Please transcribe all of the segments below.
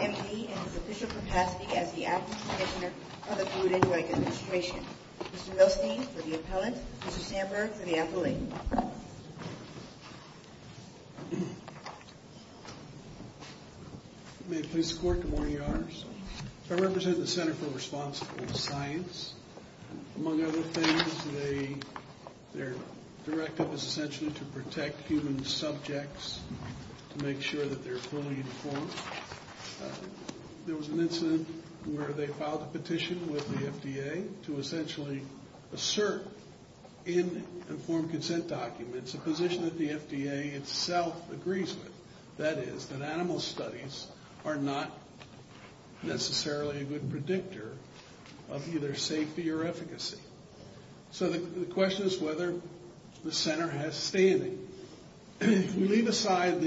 M.D. in his official capacity as the Acting Commissioner of the Food and Drug Administration. Mr. Milstein for the Appellant, Mr. Sandberg for the Affiliate. May it please the Court, good morning, Your Honors. I represent the Center for Responsible Science. Among other things, their directive is essentially to protect human subjects, to make sure that they're fully informed. There was an incident where they filed a petition with the FDA to essentially assert in informed consent documents a position that the FDA itself agrees with. That is, that animal studies are not necessarily a good predictor of either safety or efficacy. So the question is whether the Center has standing. If we leave aside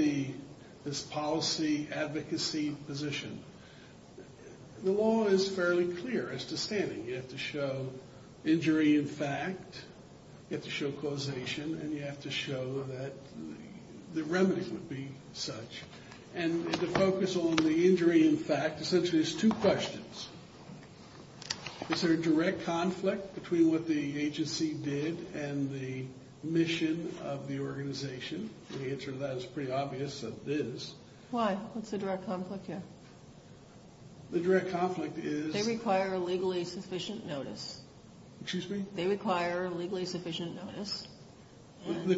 this policy advocacy position, the law is fairly clear as to standing. You have to show causation, and you have to show that the remedy would be such. And to focus on the injury in fact, essentially there's two questions. Is there a direct conflict between what the agency did and the mission of the organization? The answer to that is pretty obvious that there is. Why? What's the direct conflict here? The direct conflict is... They require legally sufficient notice. Excuse me? They require legally sufficient notice. The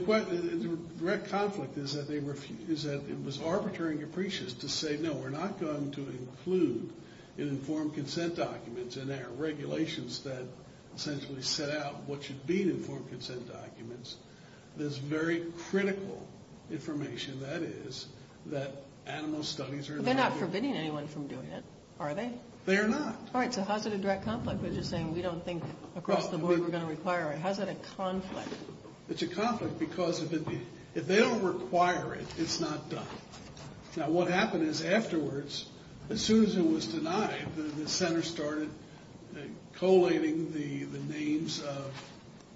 direct conflict is that it was arbitrary and capricious to say, no, we're not going to include in informed consent documents, and there are regulations that essentially set out what should be in informed consent documents. There's very critical information, that is, that animal studies are not... Are they? They're not. All right, so how's it a direct conflict? We're just saying we don't think across the board we're going to require it. How's that a conflict? It's a conflict because if they don't require it, it's not done. Now what happened is afterwards, as soon as it was denied, the Center started collating the names of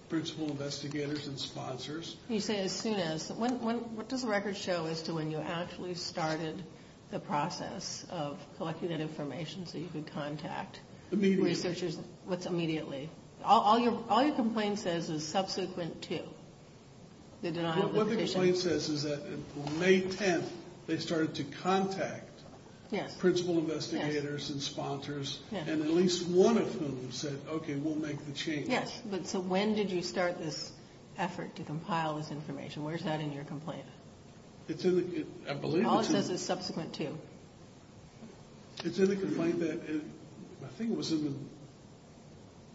principal investigators and sponsors. You say as soon as. What does the record show as to when you actually started the process of collecting that information so you could contact researchers immediately? All your complaint says is subsequent to the denial. What the complaint says is that May 10th, they started to contact principal investigators and sponsors, and at least one of whom said, okay, we'll make the change. Yes, but so when did you start this effort to compile this information? Where's that in your complaint? It's in the... I believe it's in... All it says is subsequent to. It's in the complaint that, I think it was in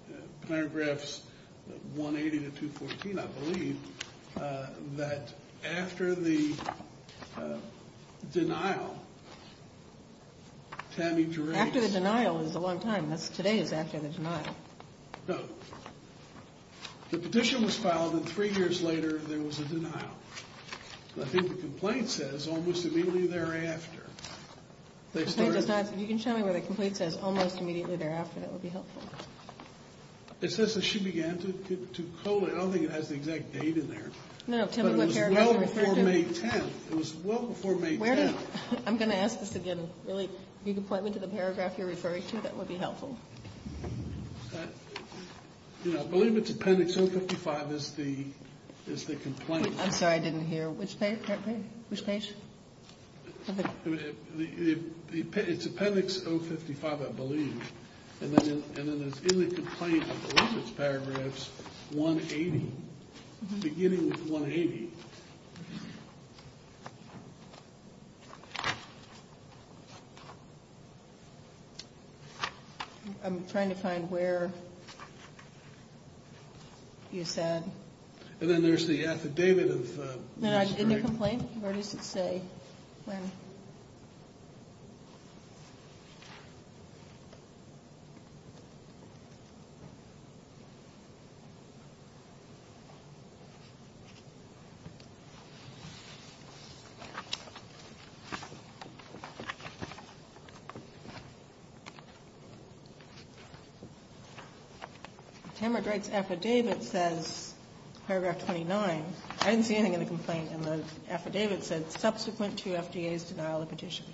the paragraphs 180 to 214, I believe, that after the denial, Tammy... After the denial is a long time. Today is after the denial. No. The petition was filed and three years later there was a denial. I think the complaint says almost immediately thereafter. If you can show me where the complaint says almost immediately thereafter, that would be helpful. It says that she began to collate. I don't think it has the exact date in there. No, no, tell me what paragraph you're referring to. It was well before May 10th. It was well before May 10th. I'm going to ask this again. Really, if you could point me to the paragraph you're referring to, that would be helpful. I believe it's appendix 055 is the complaint. I'm sorry, I didn't hear. Which page? It's appendix 055, I believe, and then it's in the complaint, I believe it's paragraphs 180, beginning with 180. I'm trying to find where you said. And then there's the affidavit of... In the complaint, where does it say? When? Tamard Wright's affidavit says paragraph 29. I didn't see anything in the complaint. In the affidavit, it said subsequent to FDA's denial of petition.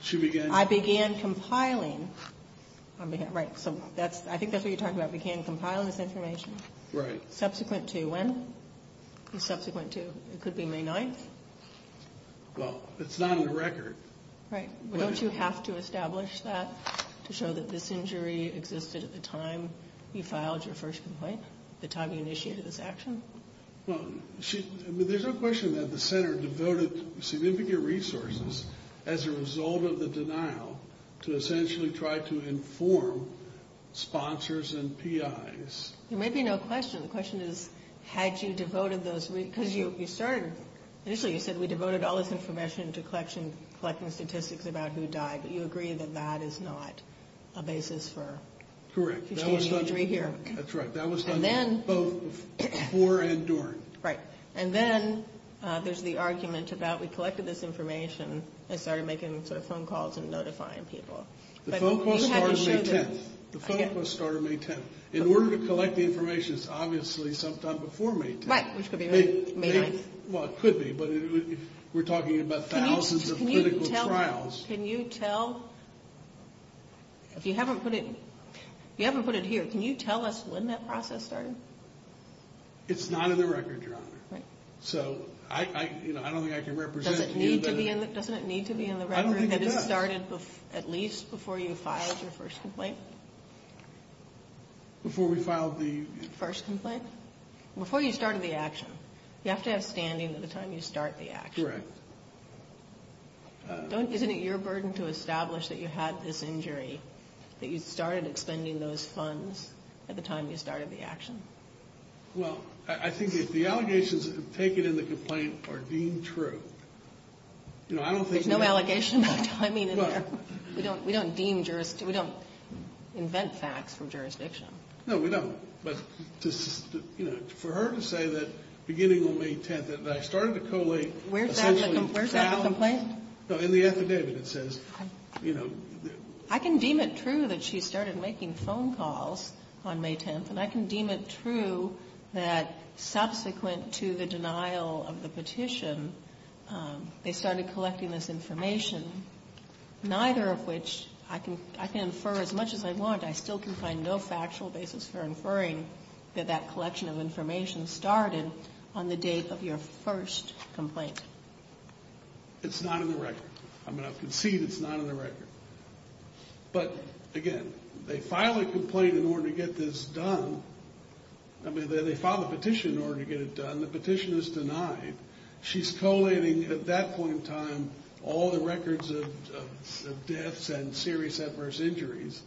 She began... I began compiling. Right, so I think that's what you're talking about, began compiling this information. Right. Subsequent to when? Subsequent to, it could be May 9th? Well, it's not on the record. Right. Well, don't you have to establish that to show that this injury existed at the time you filed your first complaint? The time you initiated this action? Well, there's no question that the center devoted significant resources as a result of the denial to essentially try to inform sponsors and PIs. There may be no question. The question is, had you devoted those... Because you started, initially you said we devoted all this information to collecting statistics about who died, but you agree that that is not a basis for... Correct. That's right. That was done both before and during. Right. And then there's the argument about we collected this information and started making sort of phone calls and notifying people. The phone call started May 10th. The phone call started May 10th. In order to collect the information, it's obviously sometime before May 10th. Right, which could be May 9th. Well, it could be, but we're talking about thousands of clinical trials. If you haven't put it here, can you tell us when that process started? It's not in the record, Your Honor. Right. So, I don't think I can represent... Doesn't it need to be in the record? I don't think it does. That it started at least before you filed your first complaint? Before we filed the... First complaint? Before you started the action. You have to have standing at the time you start the action. Correct. Isn't it your burden to establish that you had this injury, that you started expending those funds at the time you started the action? Well, I think if the allegations taken in the complaint are deemed true, you know, I don't think... There's no allegation about timing in there. Well... We don't deem... We don't invent facts from jurisdiction. No, we don't. But, you know, for her to say that beginning on May 10th that I started to collate... Where's that in the complaint? No, in the affidavit it says, you know... I can deem it true that she started making phone calls on May 10th, and I can deem it true that subsequent to the denial of the petition, they started collecting this information, neither of which I can infer as much as I want. But I still can find no factual basis for inferring that that collection of information started on the date of your first complaint. It's not in the record. I'm going to concede it's not in the record. But, again, they file a complaint in order to get this done. I mean, they file a petition in order to get it done. The petition is denied. She's collating at that point in time all the records of deaths and serious adverse injuries.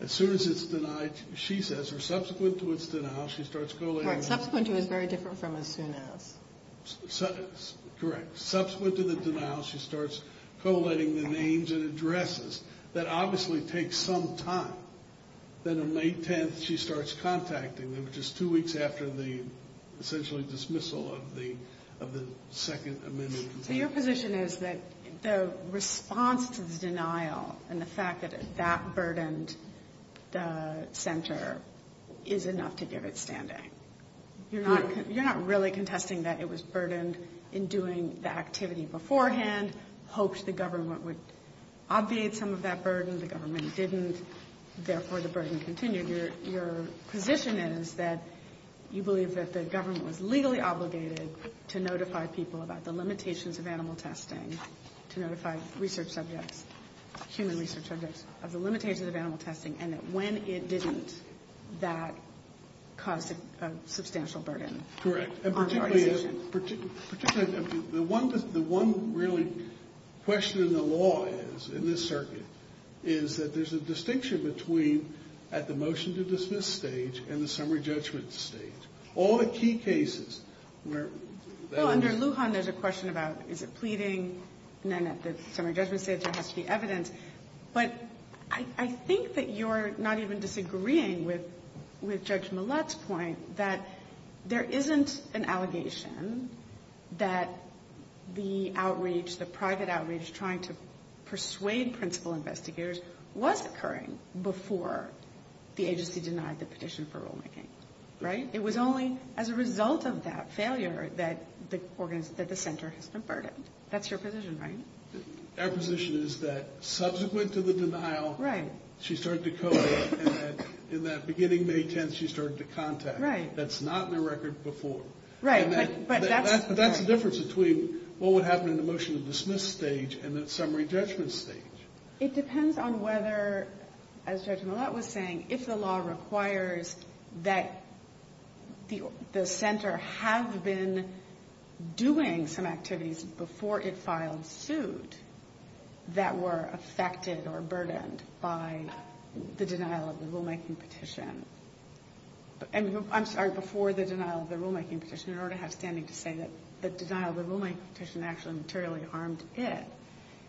As soon as it's denied, she says, or subsequent to its denial, she starts collating... Correct. Subsequent to is very different from as soon as. Correct. Subsequent to the denial, she starts collating the names and addresses. That obviously takes some time. Then on May 10th, she starts contacting them, which is two weeks after the essentially dismissal of the second amendment. So your position is that the response to the denial and the fact that that burdened the center is enough to get it standing? You're not really contesting that it was burdened in doing the activity beforehand, hoped the government would obviate some of that burden. The government didn't. Therefore, the burden continued. Your position is that you believe that the government was legally obligated to notify people about the limitations of animal testing, to notify research subjects, human research subjects, of the limitations of animal testing, and that when it didn't, that caused a substantial burden on the organization. The one really question in the law is, in this circuit, is that there's a distinction between at the motion-to-dismiss stage and the summary judgment stage. All the key cases where... Well, under Lujan, there's a question about, is it pleading? And then at the summary judgment stage, there has to be evidence. But I think that you're not even disagreeing with Judge Millett's point, that there isn't an allegation that the outreach, the private outreach, trying to persuade principal investigators was occurring before the agency denied the petition for rulemaking, right? It was only as a result of that failure that the center has been burdened. That's your position, right? Our position is that subsequent to the denial, she started to code it, and that beginning May 10th, she started to contact it. Right. That's not in the record before. Right, but that's... That's the difference between what would happen in the motion-to-dismiss stage and the summary judgment stage. It depends on whether, as Judge Millett was saying, if the law requires that the center have been doing some activities before it filed suit that were affected or burdened by the denial of the rulemaking petition. I'm sorry, before the denial of the rulemaking petition, in order to have standing to say that the denial of the rulemaking petition actually materially harmed it.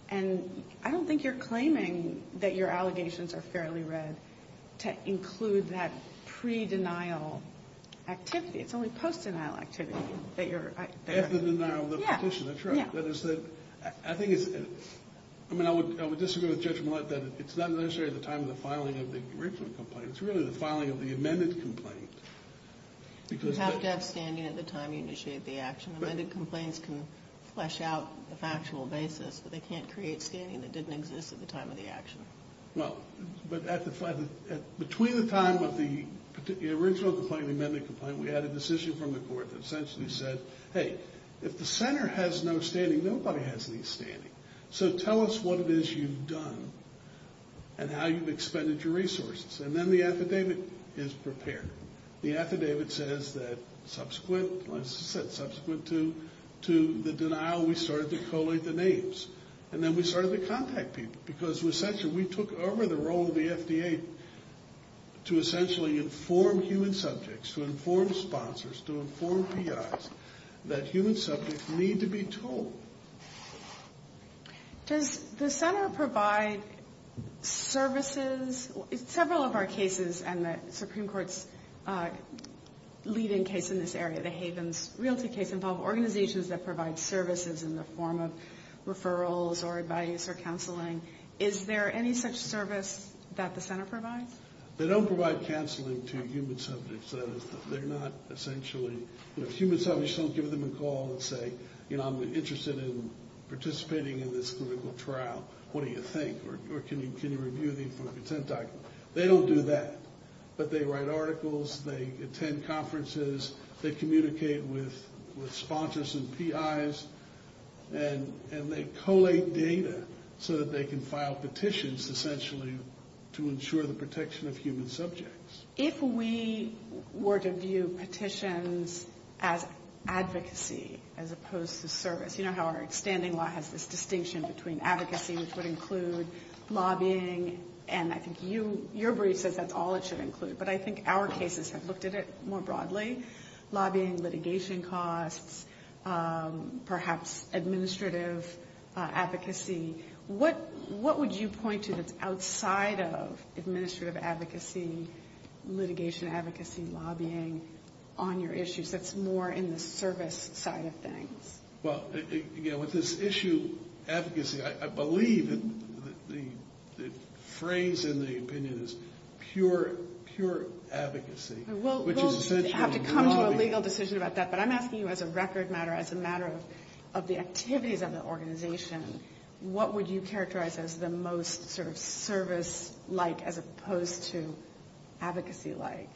I don't think you're claiming that your allegations are fairly read to include that pre-denial activity. It's only post-denial activity that you're... After the denial of the petition, that's right. Yeah. I think it's... I would disagree with Judge Millett that it's not necessarily the time of the filing of the original complaint. It's really the filing of the amended complaint. You have to have standing at the time you initiate the action. The amended complaints can flesh out the factual basis, but they can't create standing that didn't exist at the time of the action. Well, but between the time of the original complaint and the amended complaint, we had a decision from the court that essentially said, hey, if the center has no standing, nobody has any standing. So tell us what it is you've done and how you've expended your resources. And then the affidavit is prepared. The affidavit says that subsequent to the denial, we started to collate the names. And then we started to contact people, because essentially we took over the role of the FDA to essentially inform human subjects, to inform sponsors, to inform PIs that human subjects need to be told. Does the center provide services? Several of our cases and the Supreme Court's leading case in this area, the Havens Realty case, involve organizations that provide services in the form of referrals or advice or counseling. Is there any such service that the center provides? They don't provide counseling to human subjects. That is, they're not essentially, you know, if human subjects don't give them a call and say, you know, I'm interested in participating in this clinical trial, what do you think? Or can you review the informed consent document? They don't do that. But they write articles, they attend conferences, they communicate with sponsors and PIs, and they collate data so that they can file petitions, essentially, to ensure the protection of human subjects. If we were to view petitions as advocacy as opposed to service, you know how our extending law has this distinction between advocacy, which would include lobbying, and I think your brief says that's all it should include. But I think our cases have looked at it more broadly. Lobbying, litigation costs, perhaps administrative advocacy. What would you point to that's outside of administrative advocacy, litigation advocacy, lobbying on your issues that's more in the service side of things? Well, again, with this issue, advocacy, I believe the phrase and the opinion is pure advocacy. We'll have to come to a legal decision about that, but I'm asking you as a record matter, as a matter of the activities of the organization, what would you characterize as the most sort of service-like as opposed to advocacy-like?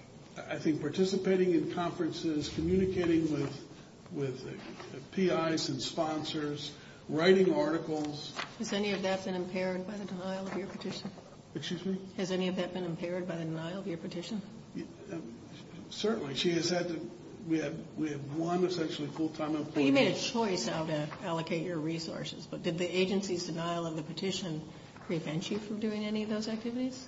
I think participating in conferences, communicating with PIs and sponsors, writing articles. Has any of that been impaired by the denial of your petition? Excuse me? Has any of that been impaired by the denial of your petition? Certainly. She has said that we have one essentially full-time employee. Well, you made a choice how to allocate your resources, but did the agency's denial of the petition prevent you from doing any of those activities?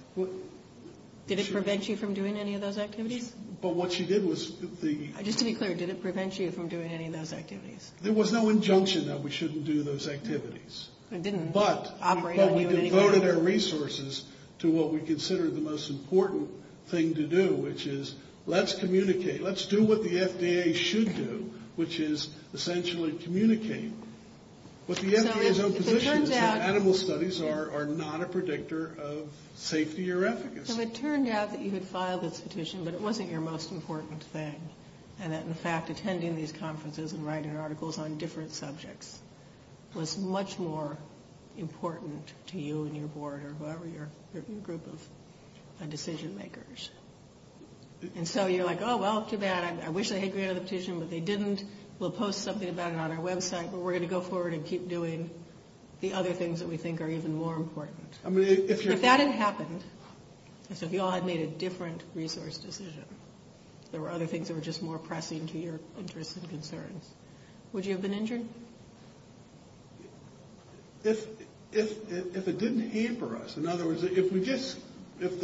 Did it prevent you from doing any of those activities? But what she did was the- Just to be clear, did it prevent you from doing any of those activities? There was no injunction that we shouldn't do those activities. It didn't operate on you in any way. But we devoted our resources to what we considered the most important thing to do, which is let's communicate. Let's do what the FDA should do, which is essentially communicate. But the FDA's own position is that animal studies are not a predictor of safety or efficacy. So it turned out that you had filed this petition, but it wasn't your most important thing, and that in fact attending these conferences and writing articles on different subjects was much more important to you and your board or whatever your group of decision makers. And so you're like, oh, well, too bad. I wish they had granted the petition, but they didn't. We'll post something about it on our website, but we're going to go forward and keep doing the other things that we think are even more important. If that had happened, so if you all had made a different resource decision, there were other things that were just more pressing to your interests and concerns, would you have been injured? If it didn't hamper us. In other words, if we just- If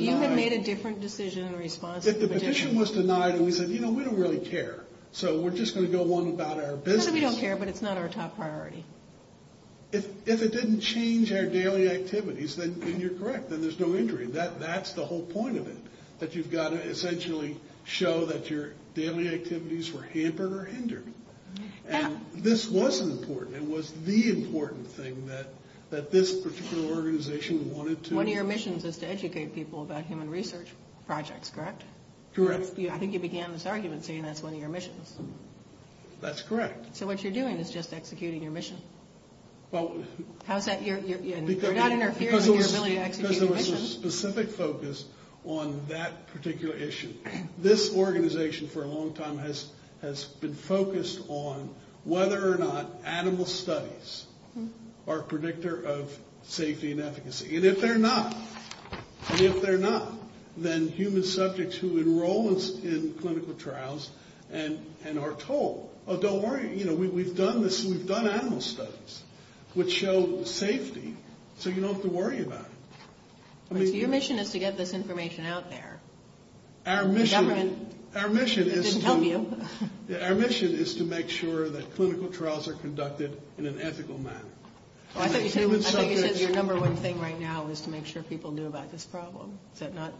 you had made a different decision in response to the petition. The petition was denied, and we said, you know, we don't really care. So we're just going to go on about our business. Because we don't care, but it's not our top priority. If it didn't change our daily activities, then you're correct. Then there's no injury. That's the whole point of it, that you've got to essentially show that your daily activities were hampered or hindered. This was important. It was the important thing that this particular organization wanted to- One of your missions is to educate people about human research projects, correct? Correct. I think you began this argument saying that's one of your missions. That's correct. So what you're doing is just executing your mission. How's that- You're not interfering with your ability to execute your mission. Because there was a specific focus on that particular issue. This organization for a long time has been focused on whether or not animal studies are predictor of safety and efficacy. And if they're not, and if they're not, then human subjects who enroll in clinical trials and are told, oh, don't worry, we've done this, we've done animal studies, would show safety. So you don't have to worry about it. Your mission is to get this information out there. Our mission- The government didn't help you. Our mission is to make sure that clinical trials are conducted in an ethical manner. I thought you said your number one thing right now is to make sure people knew about this problem. Is that not-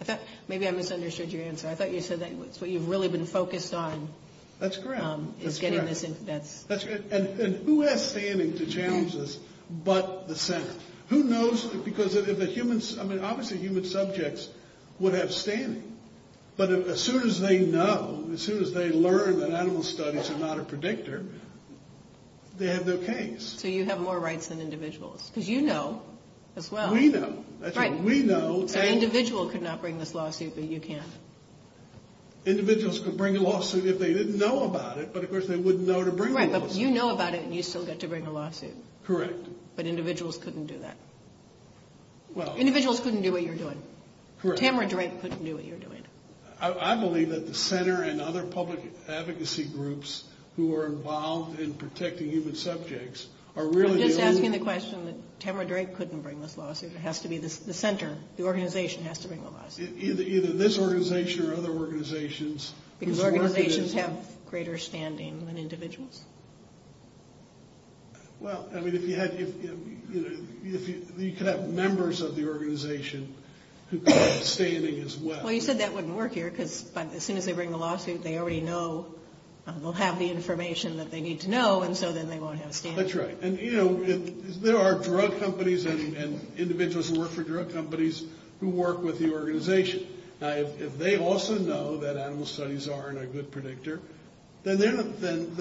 I thought- maybe I misunderstood your answer. I thought you said that's what you've really been focused on. That's correct. Is getting this- That's correct. And who has standing to challenge this but the Senate? Who knows? Because if the humans- I mean, obviously human subjects would have standing. But as soon as they know, as soon as they learn that animal studies are not a predictor, they have no case. So you have more rights than individuals because you know as well. We know. That's right. We know. So an individual could not bring this lawsuit but you can. Individuals could bring a lawsuit if they didn't know about it, but of course they wouldn't know to bring a lawsuit. Right, but you know about it and you still get to bring a lawsuit. Correct. But individuals couldn't do that. Well- Correct. Tamara Drake couldn't do what you're doing. I believe that the center and other public advocacy groups who are involved in protecting human subjects are really- I'm just asking the question that Tamara Drake couldn't bring this lawsuit. It has to be the center. The organization has to bring the lawsuit. Either this organization or other organizations- Because organizations have greater standing than individuals. Well, I mean, if you had- you could have members of the organization who could have standing as well. Well, you said that wouldn't work here because as soon as they bring the lawsuit, they already know. They'll have the information that they need to know and so then they won't have standing. That's right. And you know, there are drug companies and individuals who work for drug companies who work with the organization. Now, if they also know that animal studies aren't a good predictor, then they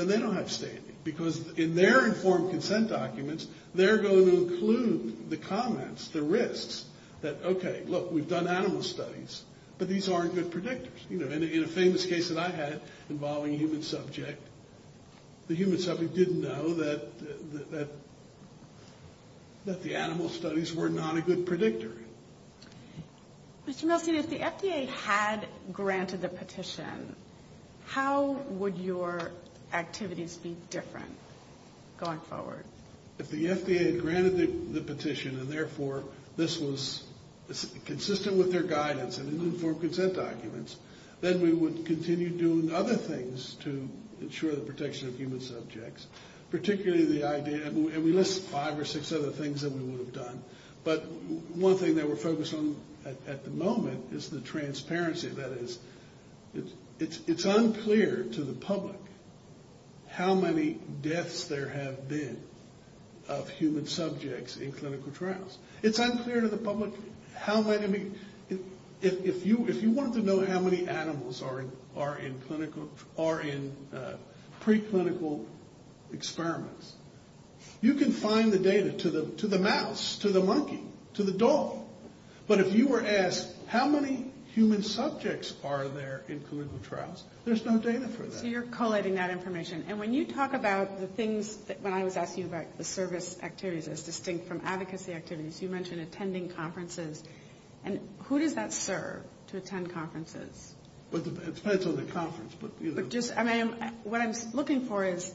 don't have standing because in their informed consent documents, they're going to include the comments, the risks that, okay, look, we've done animal studies, but these aren't good predictors. You know, in a famous case that I had involving a human subject, the human subject didn't know that the animal studies were not a good predictor. Mr. Milstein, if the FDA had granted the petition, how would your activities be different going forward? If the FDA had granted the petition and therefore this was consistent with their guidance and informed consent documents, then we would continue doing other things to ensure the protection of human subjects, particularly the idea- and we list five or six other things that we would have done, but one thing that we're focused on at the moment is the transparency. That is, it's unclear to the public how many deaths there have been of human subjects in clinical trials. It's unclear to the public how many- if you wanted to know how many animals are in preclinical experiments, you can find the data to the mouse, to the monkey, to the dog. But if you were asked how many human subjects are there in clinical trials, there's no data for that. So you're collating that information, and when you talk about the things- when I was asking you about the service activities as distinct from advocacy activities, you mentioned attending conferences, and who does that serve, to attend conferences? It depends on the conference. What I'm looking for is,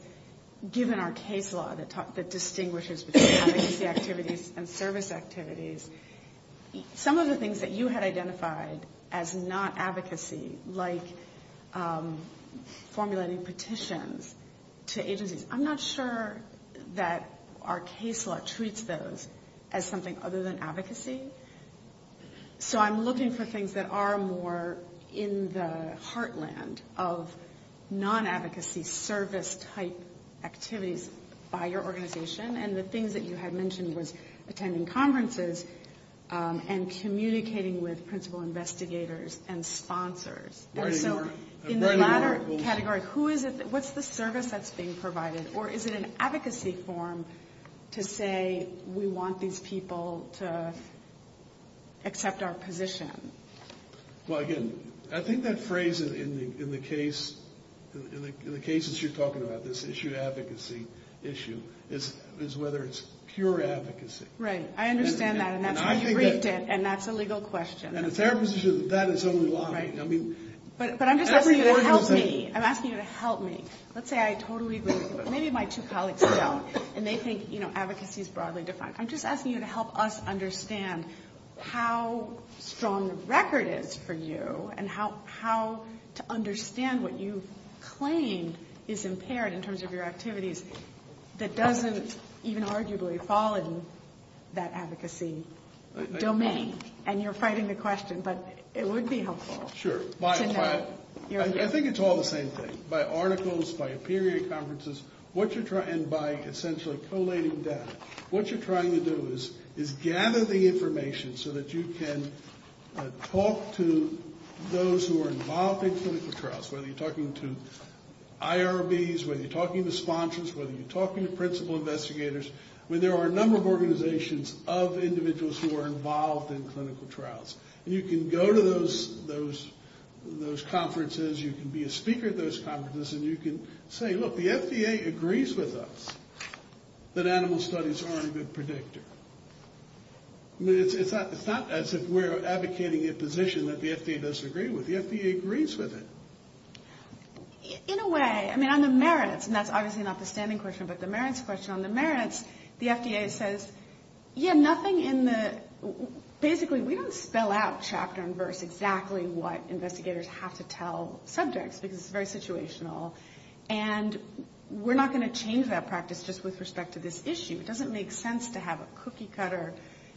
given our case law that distinguishes between advocacy activities and service activities, some of the things that you had identified as not advocacy, like formulating petitions to agencies, I'm not sure that our case law treats those as something other than advocacy. So I'm looking for things that are more in the heartland of non-advocacy service-type activities by your organization, and the things that you had mentioned was attending conferences and communicating with principal investigators and sponsors. And so in the latter category, who is it- what's the service that's being provided? Or is it an advocacy form to say we want these people to accept our position? Well, again, I think that phrase in the case- in the cases you're talking about, this issue of advocacy issue, is whether it's pure advocacy. Right. I understand that, and that's why you briefed it, and that's a legal question. And it's our position that that is only law. But I'm just asking you to help me. I'm asking you to help me. Let's say I totally agree- maybe my two colleagues don't, and they think advocacy is broadly defined. I'm just asking you to help us understand how strong the record is for you and how to understand what you claim is impaired in terms of your activities that doesn't even arguably fall in that advocacy domain. And you're fighting the question, but it would be helpful to know. Well, I think it's all the same thing. By articles, by peer-reviewed conferences, and by essentially collating data, what you're trying to do is gather the information so that you can talk to those who are involved in clinical trials, whether you're talking to IRBs, whether you're talking to sponsors, whether you're talking to principal investigators, when there are a number of organizations of individuals who are involved in clinical trials. And you can go to those conferences, you can be a speaker at those conferences, and you can say, look, the FDA agrees with us that animal studies aren't a good predictor. I mean, it's not as if we're advocating a position that the FDA doesn't agree with. The FDA agrees with it. In a way, I mean, on the merits, and that's obviously not the standing question, but the merits question, on the merits, the FDA says, yeah, nothing in the- we fill out chapter and verse exactly what investigators have to tell subjects, because it's very situational. And we're not going to change that practice just with respect to this issue. It doesn't make sense to have a cookie-cutter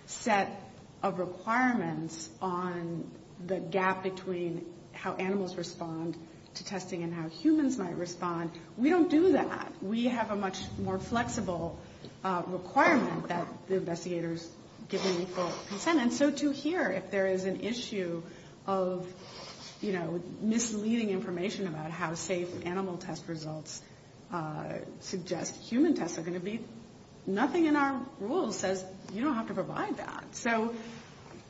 set of requirements on the gap between how animals respond to testing and how humans might respond. We don't do that. We have a much more flexible requirement that the investigators give an equal consent. And so to hear if there is an issue of, you know, misleading information about how safe animal test results suggest human tests are going to be, nothing in our rules says you don't have to provide that. So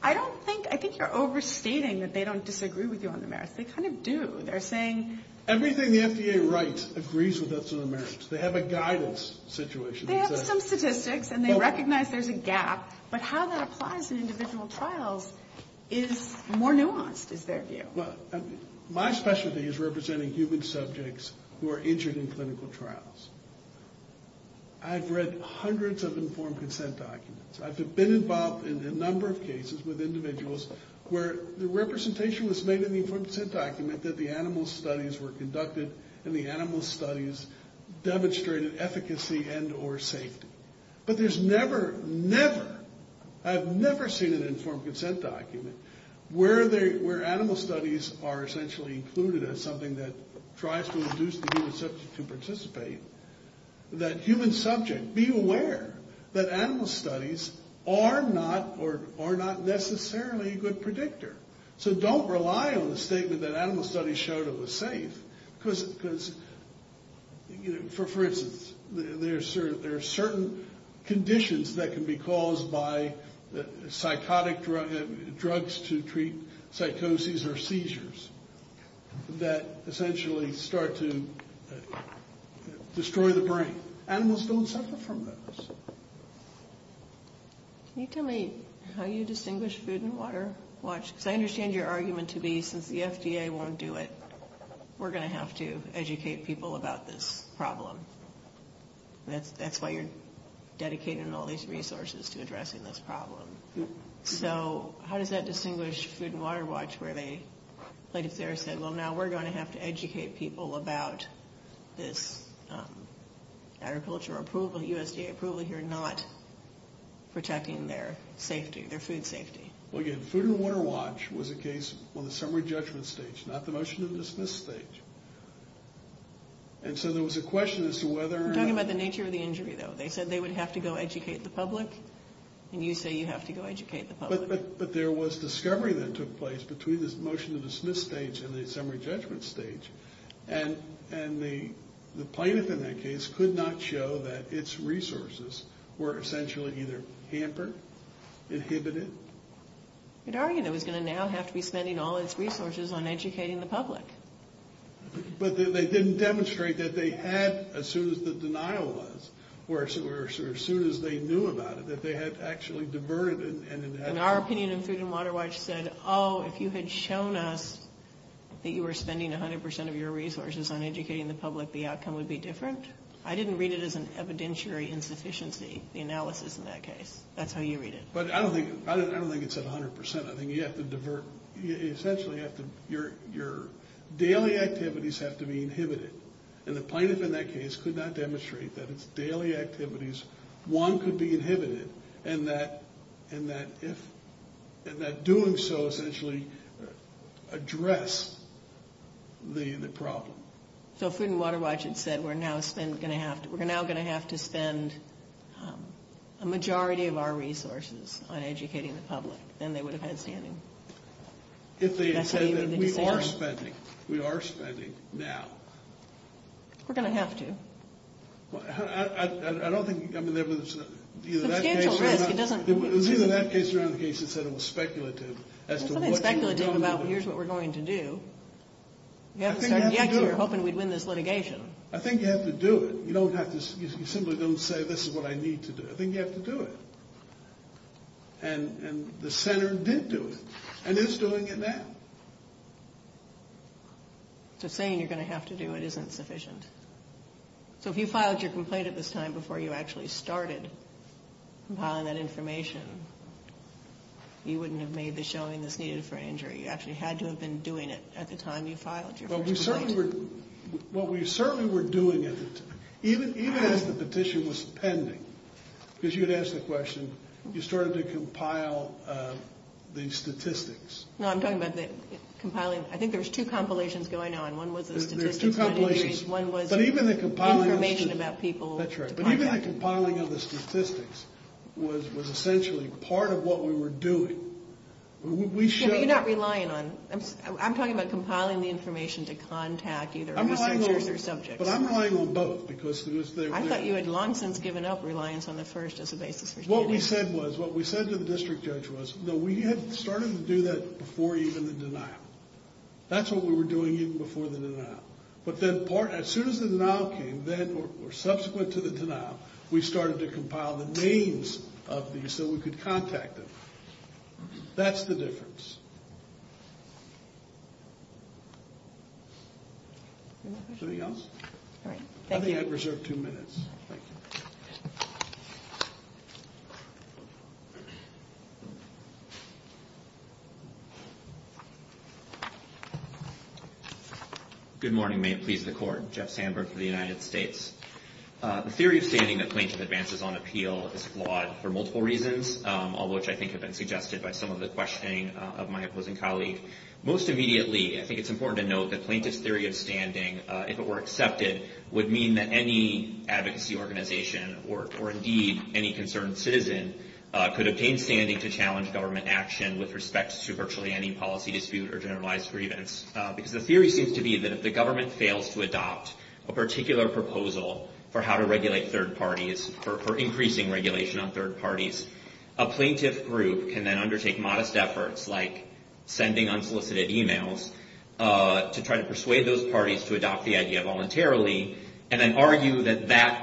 I don't think- I think you're overstating that they don't disagree with you on the merits. They kind of do. They're saying- Everything the FDA writes agrees with us on the merits. They have a guidance situation. They have some statistics, and they recognize there's a gap. But how that applies in individual trials is more nuanced, is their view. Well, my specialty is representing human subjects who are injured in clinical trials. I've read hundreds of informed consent documents. I've been involved in a number of cases with individuals where the representation was made in the informed consent document that the animal studies were conducted and the animal studies demonstrated efficacy and or safety. But there's never, never- I've never seen an informed consent document where animal studies are essentially included as something that tries to induce the human subject to participate. That human subject- be aware that animal studies are not necessarily a good predictor. So don't rely on the statement that animal studies showed it was safe. Because, for instance, there are certain conditions that can be caused by psychotic drugs to treat psychoses or seizures that essentially start to destroy the brain. Animals don't suffer from those. Can you tell me how you distinguish food and water? Because I understand your argument to be since the FDA won't do it, we're going to have to educate people about this problem. That's why you're dedicating all these resources to addressing this problem. So how does that distinguish food and water? Where they said, well, now we're going to have to educate people about this agriculture approval, USDA approval here, not protecting their safety, their food safety. Well, again, food and water watch was a case on the summary judgment stage, not the motion to dismiss stage. And so there was a question as to whether- I'm talking about the nature of the injury, though. They said they would have to go educate the public, and you say you have to go educate the public. But there was discovery that took place between this motion to dismiss stage and the summary judgment stage. And the plaintiff in that case could not show that its resources were essentially either hampered, inhibited. You could argue that it was going to now have to be spending all its resources on educating the public. But they didn't demonstrate that they had, as soon as the denial was, or as soon as they knew about it, that they had actually diverted and- And our opinion of food and water watch said, oh, if you had shown us that you were spending 100% of your resources on educating the public, the outcome would be different? I didn't read it as an evidentiary insufficiency, the analysis in that case. That's how you read it. But I don't think it's at 100%. I think you have to divert-essentially, your daily activities have to be inhibited. And the plaintiff in that case could not demonstrate that its daily activities, one, could be inhibited, and that doing so essentially addressed the problem. So food and water watch had said we're now going to have to spend a majority of our resources on educating the public. Then they would have had standing. If they had said that we are spending, we are spending now. We're going to have to. I don't think there was- Substantial risk. It was either that case or another case that said it was speculative as to what you were going to do. It wasn't speculative about here's what we're going to do. You haven't started yet, so you're hoping we'd win this litigation. I think you have to do it. You simply don't say this is what I need to do. I think you have to do it. And the center did do it and is doing it now. So saying you're going to have to do it isn't sufficient. So if you filed your complaint at this time before you actually started compiling that information, you wouldn't have made the showing that's needed for an injury. You actually had to have been doing it at the time you filed your first complaint. Well, we certainly were doing it, even as the petition was pending, because you had asked the question. You started to compile the statistics. No, I'm talking about the compiling. I think there was two compilations going on. One was the statistics. There were two compilations. One was information about people. That's right. But even the compiling of the statistics was essentially part of what we were doing. Yeah, but you're not relying on them. I'm talking about compiling the information to contact either listeners or subjects. But I'm relying on both because there was there. I thought you had long since given up reliance on the first as a basis for standing up. What we said was, what we said to the district judge was, no, we had started to do that before even the denial. That's what we were doing even before the denial. But then as soon as the denial came, then or subsequent to the denial, we started to compile the names of these so we could contact them. That's the difference. Anything else? All right. I think I've reserved two minutes. Thank you. Good morning. May it please the Court. Jeff Sandberg for the United States. The theory of standing that plaintiff advances on appeal is flawed for multiple reasons, all of which I think have been suggested by some of the questioning of my opposing colleague. Most immediately, I think it's important to note that plaintiff's theory of standing, if it were accepted, would mean that any advocacy organization or, indeed, any concerned citizen, could obtain standing to challenge government action with respect to virtually any policy dispute or generalized grievance, because the theory seems to be that if the government fails to adopt a particular proposal for how to regulate third parties, for increasing regulation on third parties, a plaintiff group can then undertake modest efforts like sending unsolicited emails to try to persuade those parties to adopt the idea voluntarily and then argue that that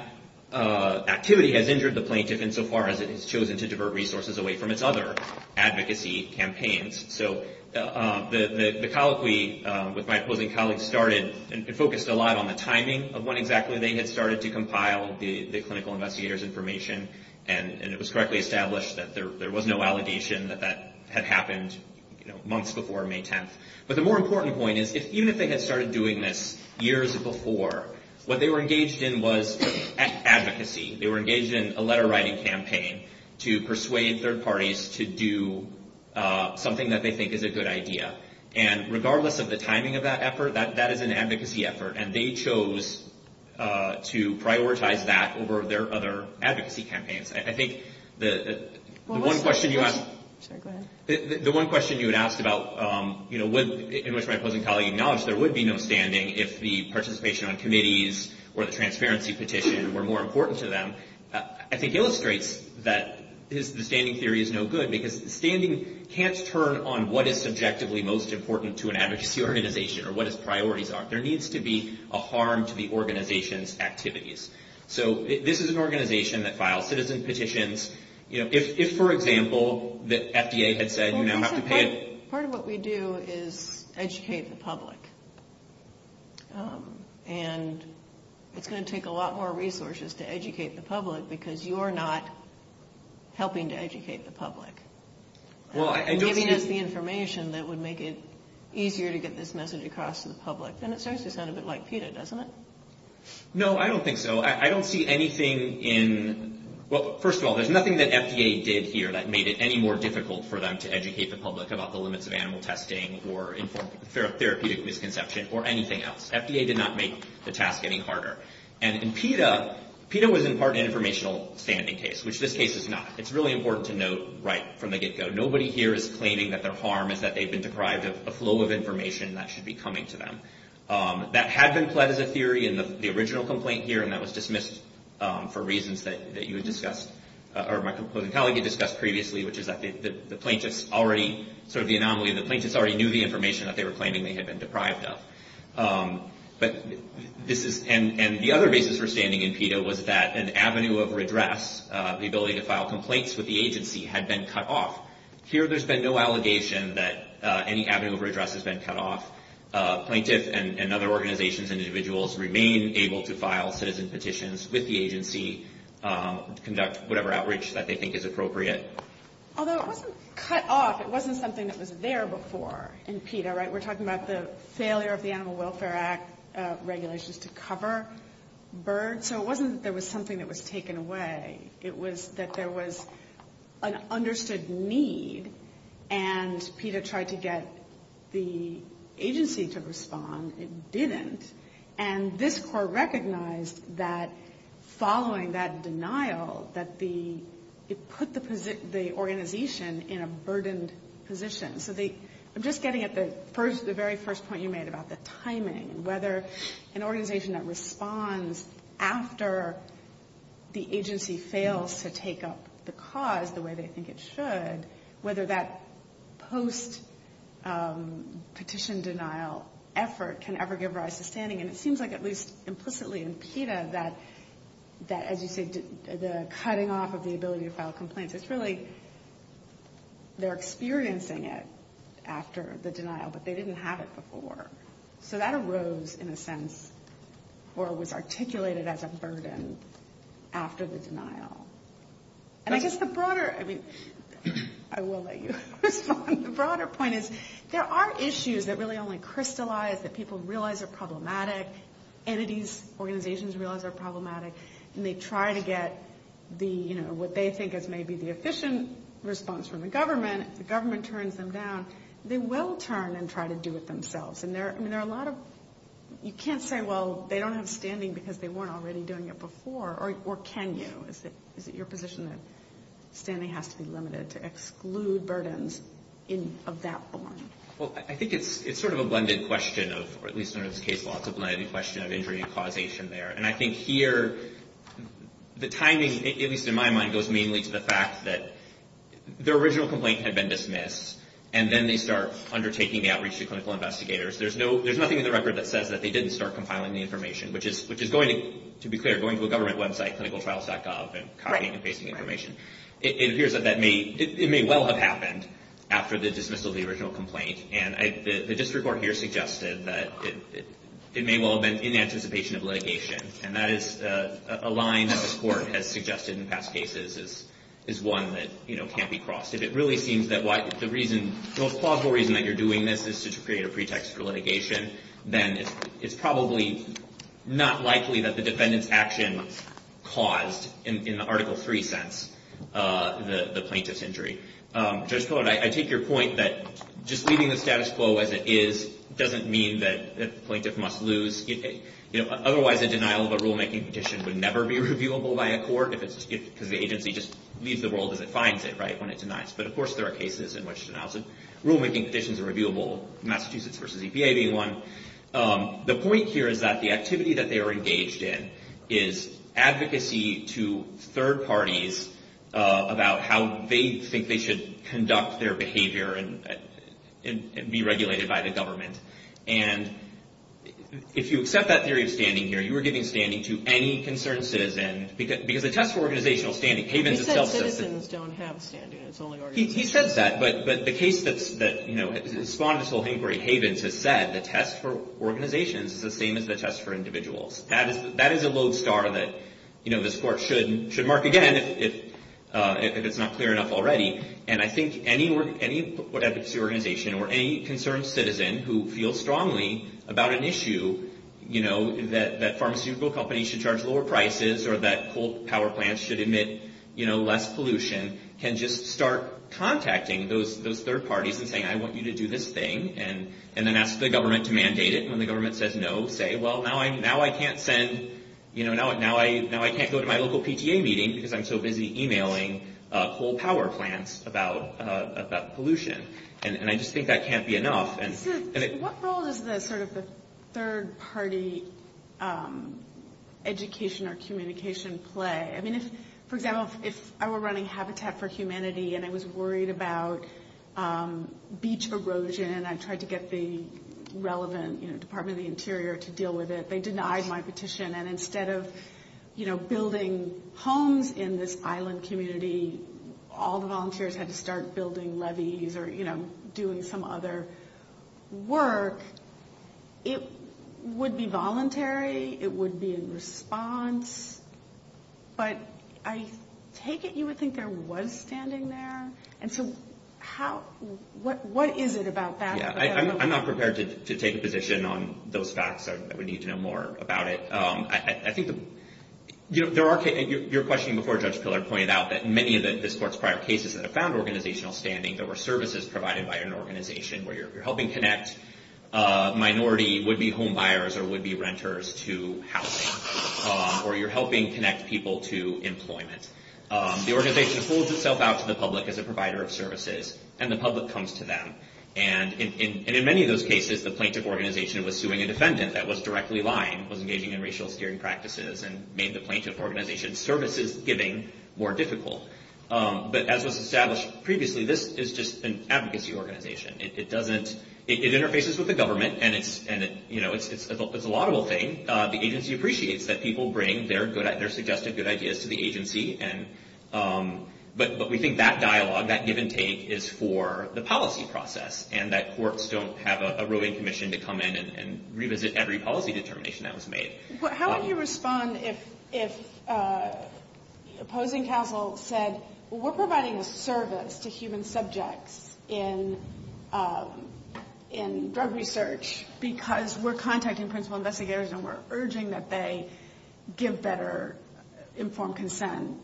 activity has injured the plaintiff insofar as it has chosen to divert resources away from its other advocacy campaigns. So the colloquy with my opposing colleague started and focused a lot on the timing of when exactly they had started to compile the clinical investigator's information, and it was correctly established that there was no allegation that that had happened months before May 10th. But the more important point is, even if they had started doing this years before, what they were engaged in was advocacy. They were engaged in a letter-writing campaign to persuade third parties to do something that they think is a good idea. And regardless of the timing of that effort, that is an advocacy effort, and they chose to prioritize that over their other advocacy campaigns. I think the one question you asked about in which my opposing colleague acknowledged there would be no standing if the participation on committees or the transparency petition were more important to them, I think illustrates that the standing theory is no good, because standing can't turn on what is subjectively most important to an advocacy organization or what its priorities are. There needs to be a harm to the organization's activities. So this is an organization that files citizen petitions. If, for example, the FDA had said you now have to pay... Well, part of what we do is educate the public, and it's going to take a lot more resources to educate the public because you're not helping to educate the public, giving us the information that would make it easier to get this message across to the public. And it certainly sounds a bit like PETA, doesn't it? No, I don't think so. I don't see anything in... Well, first of all, there's nothing that FDA did here that made it any more difficult for them to educate the public about the limits of animal testing or therapeutic misconception or anything else. FDA did not make the task any harder. And in PETA, PETA was in part an informational standing case, which this case is not. It's really important to note right from the get-go. Nobody here is claiming that their harm is that they've been deprived of a flow of information that should be coming to them. That had been pled as a theory in the original complaint here, and that was dismissed for reasons that you had discussed or my composing colleague had discussed previously, which is that the plaintiffs already... Sort of the anomaly, the plaintiffs already knew the information that they were claiming they had been deprived of. But this is... And the other basis for standing in PETA was that an avenue of redress, the ability to file complaints with the agency, had been cut off. Here, there's been no allegation that any avenue of redress has been cut off. Plaintiffs and other organizations and individuals remain able to file citizen petitions with the agency, conduct whatever outreach that they think is appropriate. Although it wasn't cut off. It wasn't something that was there before in PETA, right? We're talking about the failure of the Animal Welfare Act regulations to cover birds. So it wasn't that there was something that was taken away. It was that there was an understood need, and PETA tried to get the agency to respond. It didn't. And this Court recognized that following that denial, that it put the organization in a burdened position. So I'm just getting at the very first point you made about the timing and whether an organization that responds after the agency fails to take up the cause the way they think it should, whether that post-petition denial effort can ever give rise to standing. And it seems like, at least implicitly in PETA, that, as you say, the cutting off of the ability to file complaints, it's really they're experiencing it after the denial, but they didn't have it before. So that arose, in a sense, or was articulated as a burden after the denial. And I guess the broader, I mean, I will let you respond. The broader point is there are issues that really only crystallize, that people realize are problematic, entities, organizations realize are problematic, and they try to get the, you know, what they think is maybe the efficient response from the government. If the government turns them down, they will turn and try to do it themselves. And there are a lot of, you can't say, well, they don't have standing because they weren't already doing it before. Or can you? Is it your position that standing has to be limited to exclude burdens of that form? Well, I think it's sort of a blended question of, or at least in this case, lots of blended question of injury and causation there. And I think here the timing, at least in my mind, goes mainly to the fact that the original complaint had been dismissed, and then they start undertaking the outreach to clinical investigators. There's nothing in the record that says that they didn't start compiling the information, which is going to, to be clear, going to a government website, clinicaltrials.gov, and copying and pasting information. It appears that it may well have happened after the dismissal of the original complaint. And the district court here suggested that it may well have been in anticipation of litigation. And that is a line that this court has suggested in past cases is one that, you know, can't be crossed. If it really seems that the most plausible reason that you're doing this is to create a pretext for litigation, then it's probably not likely that the defendant's action caused, in the Article III sense, the plaintiff's injury. Judge Pillard, I take your point that just leaving the status quo as it is doesn't mean that the plaintiff must lose. Otherwise, a denial of a rulemaking petition would never be reviewable by a court, because the agency just leaves the world as it finds it, right, when it denies. But, of course, there are cases in which denials of rulemaking petitions are reviewable, Massachusetts versus EPA being one. The point here is that the activity that they are engaged in is advocacy to third parties about how they think they should conduct their behavior and be regulated by the government. And if you accept that theory of standing here, you are giving standing to any concerned citizen, because the test for organizational standing, Havens itself says that. He said citizens don't have standing, it's only organizations. He says that, but the case that spawned this whole inquiry, Havens has said, the test for organizations is the same as the test for individuals. That is a lodestar that this court should mark again if it's not clear enough already. And I think any advocacy organization or any concerned citizen who feels strongly about an issue, that pharmaceutical companies should charge lower prices or that coal power plants should emit less pollution, can just start contacting those third parties and saying, I want you to do this thing, and then ask the government to mandate it. When the government says no, say, well, now I can't go to my local PTA meeting because I'm so busy emailing coal power plants about pollution. And I just think that can't be enough. What role does the sort of the third party education or communication play? I mean, for example, if I were running Habitat for Humanity and I was worried about beach erosion and I tried to get the relevant Department of the Interior to deal with it, they denied my petition. And instead of building homes in this island community, all the volunteers had to start building levees or doing some other work. It would be voluntary. It would be in response. But I take it you would think there was standing there. And so what is it about that? I'm not prepared to take a position on those facts. I would need to know more about it. Your question before Judge Pillar pointed out that in many of this court's prior cases that have found organizational standing, there were services provided by an organization where you're helping connect minority would-be homebuyers or would-be renters to housing, or you're helping connect people to employment. The organization folds itself out to the public as a provider of services, and the public comes to them. And in many of those cases, the plaintiff organization was suing a defendant that was directly lying, was engaging in racial-steering practices, and made the plaintiff organization's services-giving more difficult. But as was established previously, this is just an advocacy organization. It interfaces with the government, and it's a laudable thing. The agency appreciates that people bring their suggested good ideas to the agency. But we think that dialogue, that give-and-take, is for the policy process and that courts don't have a roving commission to come in and revisit every policy determination that was made. How would you respond if opposing counsel said, we're providing a service to human subjects in drug research because we're contacting principal investigators and we're urging that they give better informed consent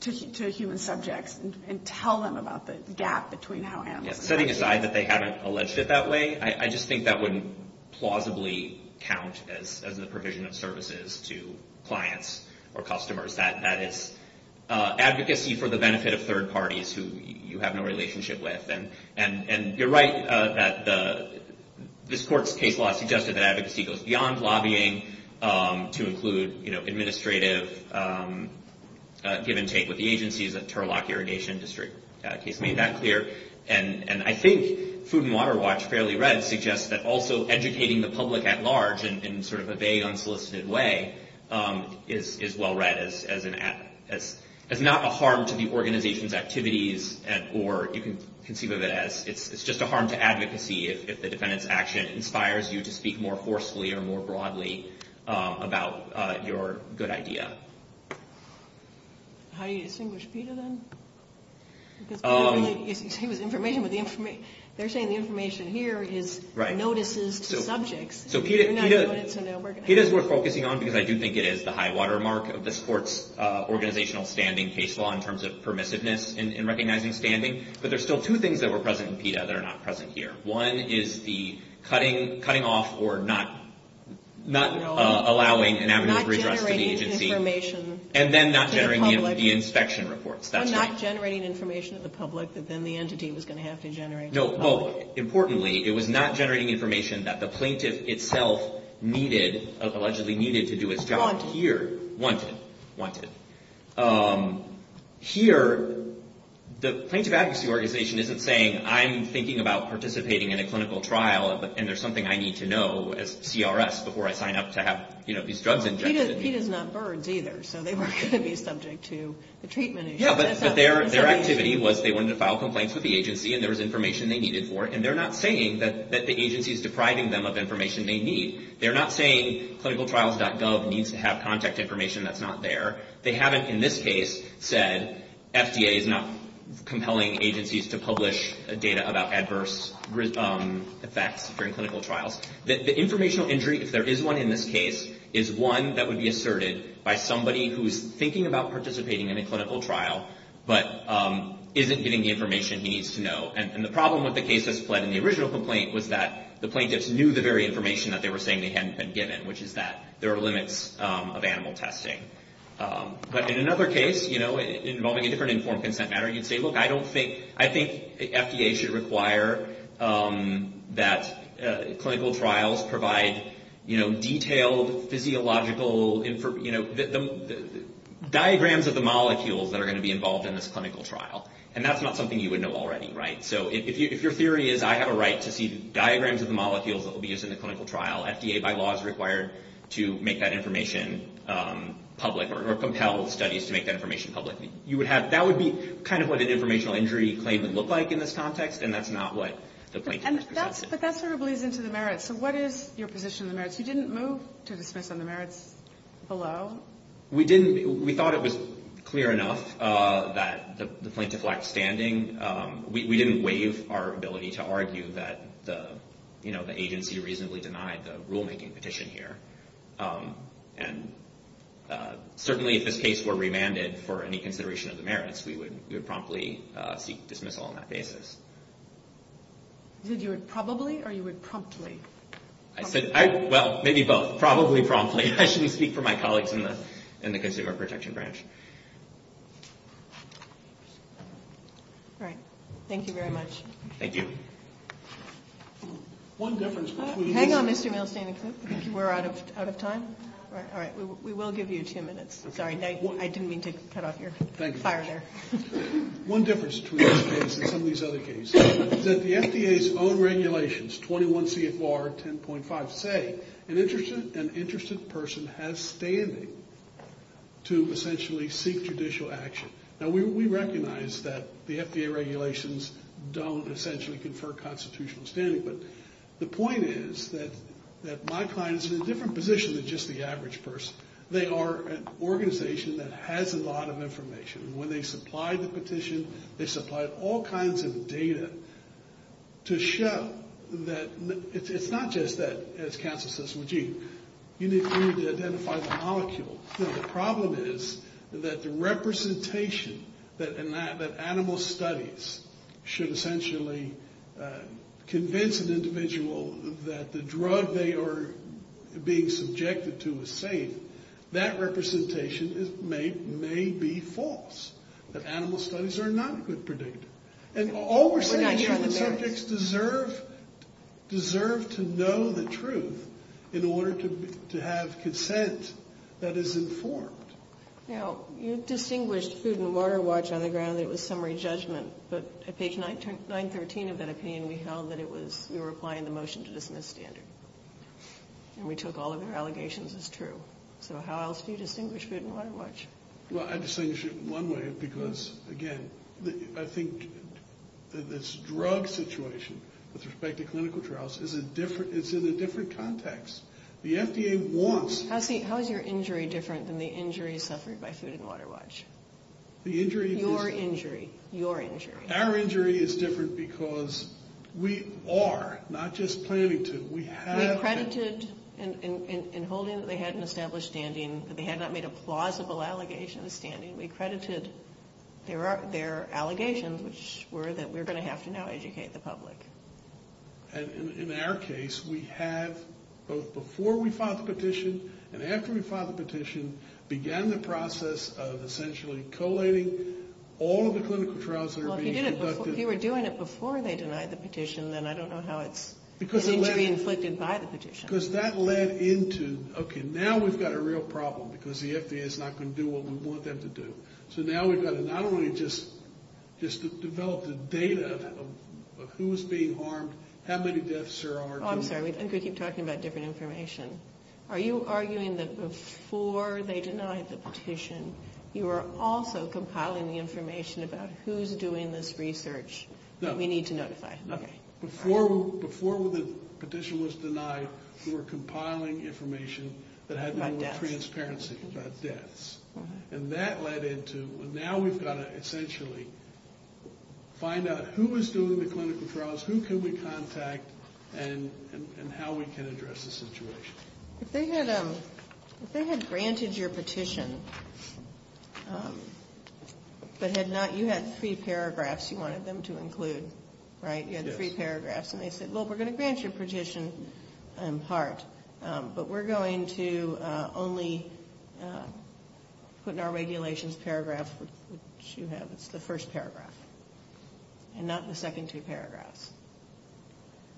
to human subjects and tell them about the gap between how animals and animals behave? Setting aside that they haven't alleged it that way, I just think that wouldn't plausibly count as a provision of services to clients or customers. That is advocacy for the benefit of third parties who you have no relationship with. And you're right that this court's case law suggested that advocacy goes beyond lobbying to include administrative give-and-take with the agencies. The Turlock Irrigation District case made that clear. And I think Food and Water Watch, fairly read, suggests that also educating the public at large in sort of a vague, unsolicited way is well read as not a harm to the organization's activities or you can conceive of it as it's just a harm to advocacy if the defendant's action inspires you to speak more forcefully or more broadly about your good idea. How do you distinguish PETA then? They're saying the information here is notices to subjects. So PETA's worth focusing on because I do think it is the high watermark of this court's organizational standing case law in terms of permissiveness in recognizing standing. But there's still two things that were present in PETA that are not present here. One is the cutting off or not allowing an avenue of redress to the agency. Not generating information to the public. And then not generating the inspection reports, that's right. Well, not generating information to the public that then the entity was going to have to generate to the public. No, well, importantly, it was not generating information that the plaintiff itself needed, allegedly needed to do its job here. Wanted. Wanted, wanted. Here, the plaintiff advocacy organization isn't saying I'm thinking about participating in a clinical trial and there's something I need to know as CRS before I sign up to have, you know, these drugs injected. PETA's not birds either, so they weren't going to be subject to the treatment issue. Yeah, but their activity was they wanted to file complaints with the agency and there was information they needed for it. And they're not saying that the agency's depriving them of information they need. They're not saying clinicaltrials.gov needs to have contact information that's not there. They haven't, in this case, said FDA is not compelling agencies to publish data about adverse effects during clinical trials. The informational injury, if there is one in this case, is one that would be asserted by somebody who's thinking about participating in a clinical trial but isn't getting the information he needs to know. And the problem with the case that's fled in the original complaint was that the plaintiffs knew the very information that they were saying they hadn't been given, which is that there are limits of animal testing. But in another case, you know, involving a different informed consent matter, you'd say, look, I don't think, I think FDA should require that clinical trials provide, you know, detailed physiological, you know, diagrams of the molecules that are going to be involved in this clinical trial. And that's not something you would know already, right? So if your theory is I have a right to see diagrams of the molecules that will be used in the clinical trial, FDA, by law, is required to make that information public or compel studies to make that information public. You would have, that would be kind of what an informational injury claim would look like in this context, and that's not what the plaintiff has presented. But that sort of bleeds into the merits. So what is your position on the merits? You didn't move to dismiss on the merits below? We didn't. We thought it was clear enough that the plaintiff lacked standing. We didn't waive our ability to argue that the, you know, the agency reasonably denied the rulemaking petition here. And certainly if this case were remanded for any consideration of the merits, we would promptly seek dismissal on that basis. Did you say probably or you would promptly? I said, well, maybe both. Probably promptly. I shouldn't speak for my colleagues in the consumer protection branch. All right. Thank you very much. Thank you. Hang on, Mr. Milstein. I think we're out of time. All right. We will give you two minutes. Sorry. I didn't mean to cut off your fire there. One difference between this case and some of these other cases is that the FDA's own regulations, 21 CFR 10.5, say an interested person has standing to essentially seek judicial action. Now, we recognize that the FDA regulations don't essentially confer constitutional standing. But the point is that my client is in a different position than just the average person. They are an organization that has a lot of information. When they supplied the petition, they supplied all kinds of data to show that it's not just that, as counsel says, well, gee, you need to identify the molecule. You know, the problem is that the representation that animal studies should essentially convince an individual that the drug they are being subjected to is safe, that representation may be false. That animal studies are not a good predictor. And all we're saying is human subjects deserve to know the truth in order to have consent that is informed. Now, you distinguished food and water watch on the ground that it was summary judgment. But at page 913 of that opinion, we held that we were applying the motion to dismiss standard. And we took all of their allegations as true. So how else do you distinguish food and water watch? Well, I distinguish it one way because, again, I think that this drug situation, with respect to clinical trials, is in a different context. The FDA wants... How is your injury different than the injury suffered by food and water watch? The injury is... Your injury. Your injury. Our injury is different because we are not just planning to. We have... We credited in holding that they had an established standing, that they had not made a plausible allegation of standing. We credited their allegations, which were that we're going to have to now educate the public. And in our case, we have, both before we filed the petition and after we filed the petition, began the process of essentially collating all of the clinical trials that are being conducted. Well, if you were doing it before they denied the petition, then I don't know how it's injury inflicted by the petition. Because that led into... Okay, now we've got a real problem because the FDA is not going to do what we want them to do. So now we've got to not only just develop the data of who is being harmed, how many deaths there are. Oh, I'm sorry. I think we keep talking about different information. Are you arguing that before they denied the petition, you were also compiling the information about who's doing this research that we need to notify? No. Okay. Before the petition was denied, we were compiling information that had no transparency about deaths. About deaths. And that led into... Now we've got to essentially find out who was doing the clinical trials, who could we contact, and how we can address the situation. If they had granted your petition, but had not... You had three paragraphs you wanted them to include, right? Yes. You had three paragraphs. And they said, well, we're going to grant your petition part, but we're going to only put in our regulations paragraph, which you have. That's the first paragraph. And not the second two paragraphs.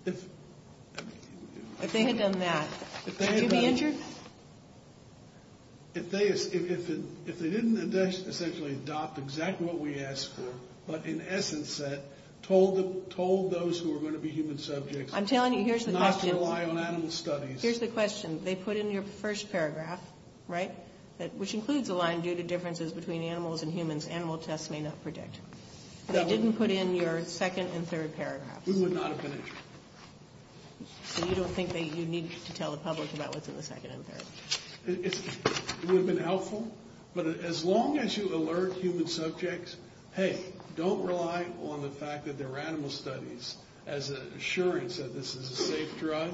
If they had done that, would you be injured? If they didn't essentially adopt exactly what we asked for, but in essence said, told those who were going to be human subjects not to rely on animal studies. Here's the question. They put in your first paragraph, right, which includes a line, due to differences between animals and humans, animal tests may not predict. They didn't put in your second and third paragraphs. We would not have been injured. So you don't think that you need to tell the public about what's in the second and third? It would have been helpful. But as long as you alert human subjects, hey, don't rely on the fact that there are animal studies as an assurance that this is a safe drug,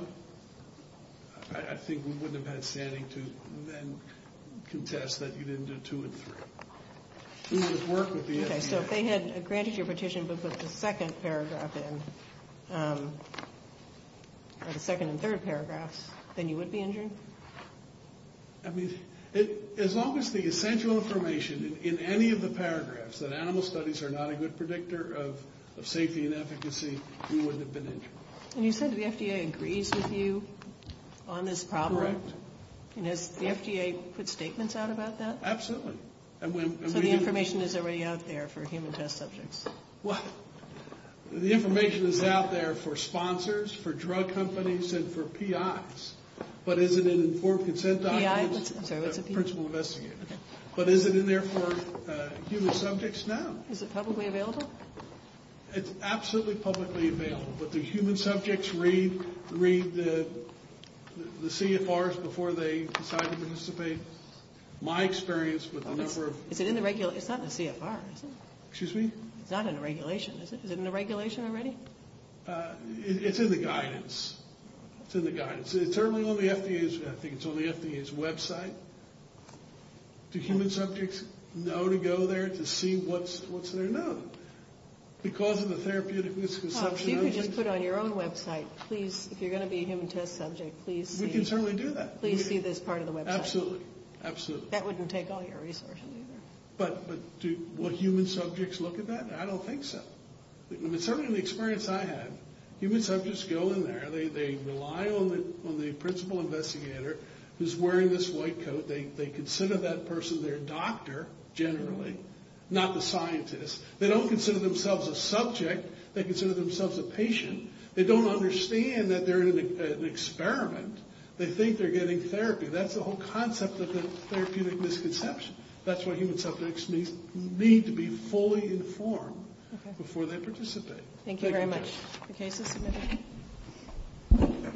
I think we wouldn't have had standing to then contest that you didn't do two and three. We would work with the FDA. Okay, so if they had granted your petition but put the second paragraph in, or the second and third paragraphs, then you would be injured? I mean, as long as the essential information in any of the paragraphs, that animal studies are not a good predictor of safety and efficacy, we wouldn't have been injured. And you said the FDA agrees with you on this problem? Correct. And has the FDA put statements out about that? Absolutely. So the information is already out there for human test subjects? Well, the information is out there for sponsors, for drug companies, and for PIs. But is it in informed consent documents? PI? I'm sorry, what's a PI? Principal investigator. But is it in there for human subjects? No. Is it publicly available? It's absolutely publicly available. But the human subjects read the CFRs before they decide to participate. My experience with the number of – Is it in the – it's not in the CFR, is it? Excuse me? It's not in the regulation, is it? Is it in the regulation already? It's in the guidance. It's in the guidance. It's certainly on the FDA's – I think it's on the FDA's website. Do human subjects know to go there to see what's there? No. Because of the therapeutic misconception – Well, if you could just put on your own website, please, if you're going to be a human test subject, please see – We can certainly do that. Please see this part of the website. Absolutely. Absolutely. That wouldn't take all your resources, either. But do human subjects look at that? I don't think so. I mean, certainly in the experience I had, human subjects go in there. They rely on the principal investigator who's wearing this white coat. They consider that person their doctor, generally, not the scientist. They don't consider themselves a subject. They consider themselves a patient. They don't understand that they're in an experiment. They think they're getting therapy. That's the whole concept of the therapeutic misconception. That's why human subjects need to be fully informed before they participate. Thank you very much. Thank you very much. The case is submitted.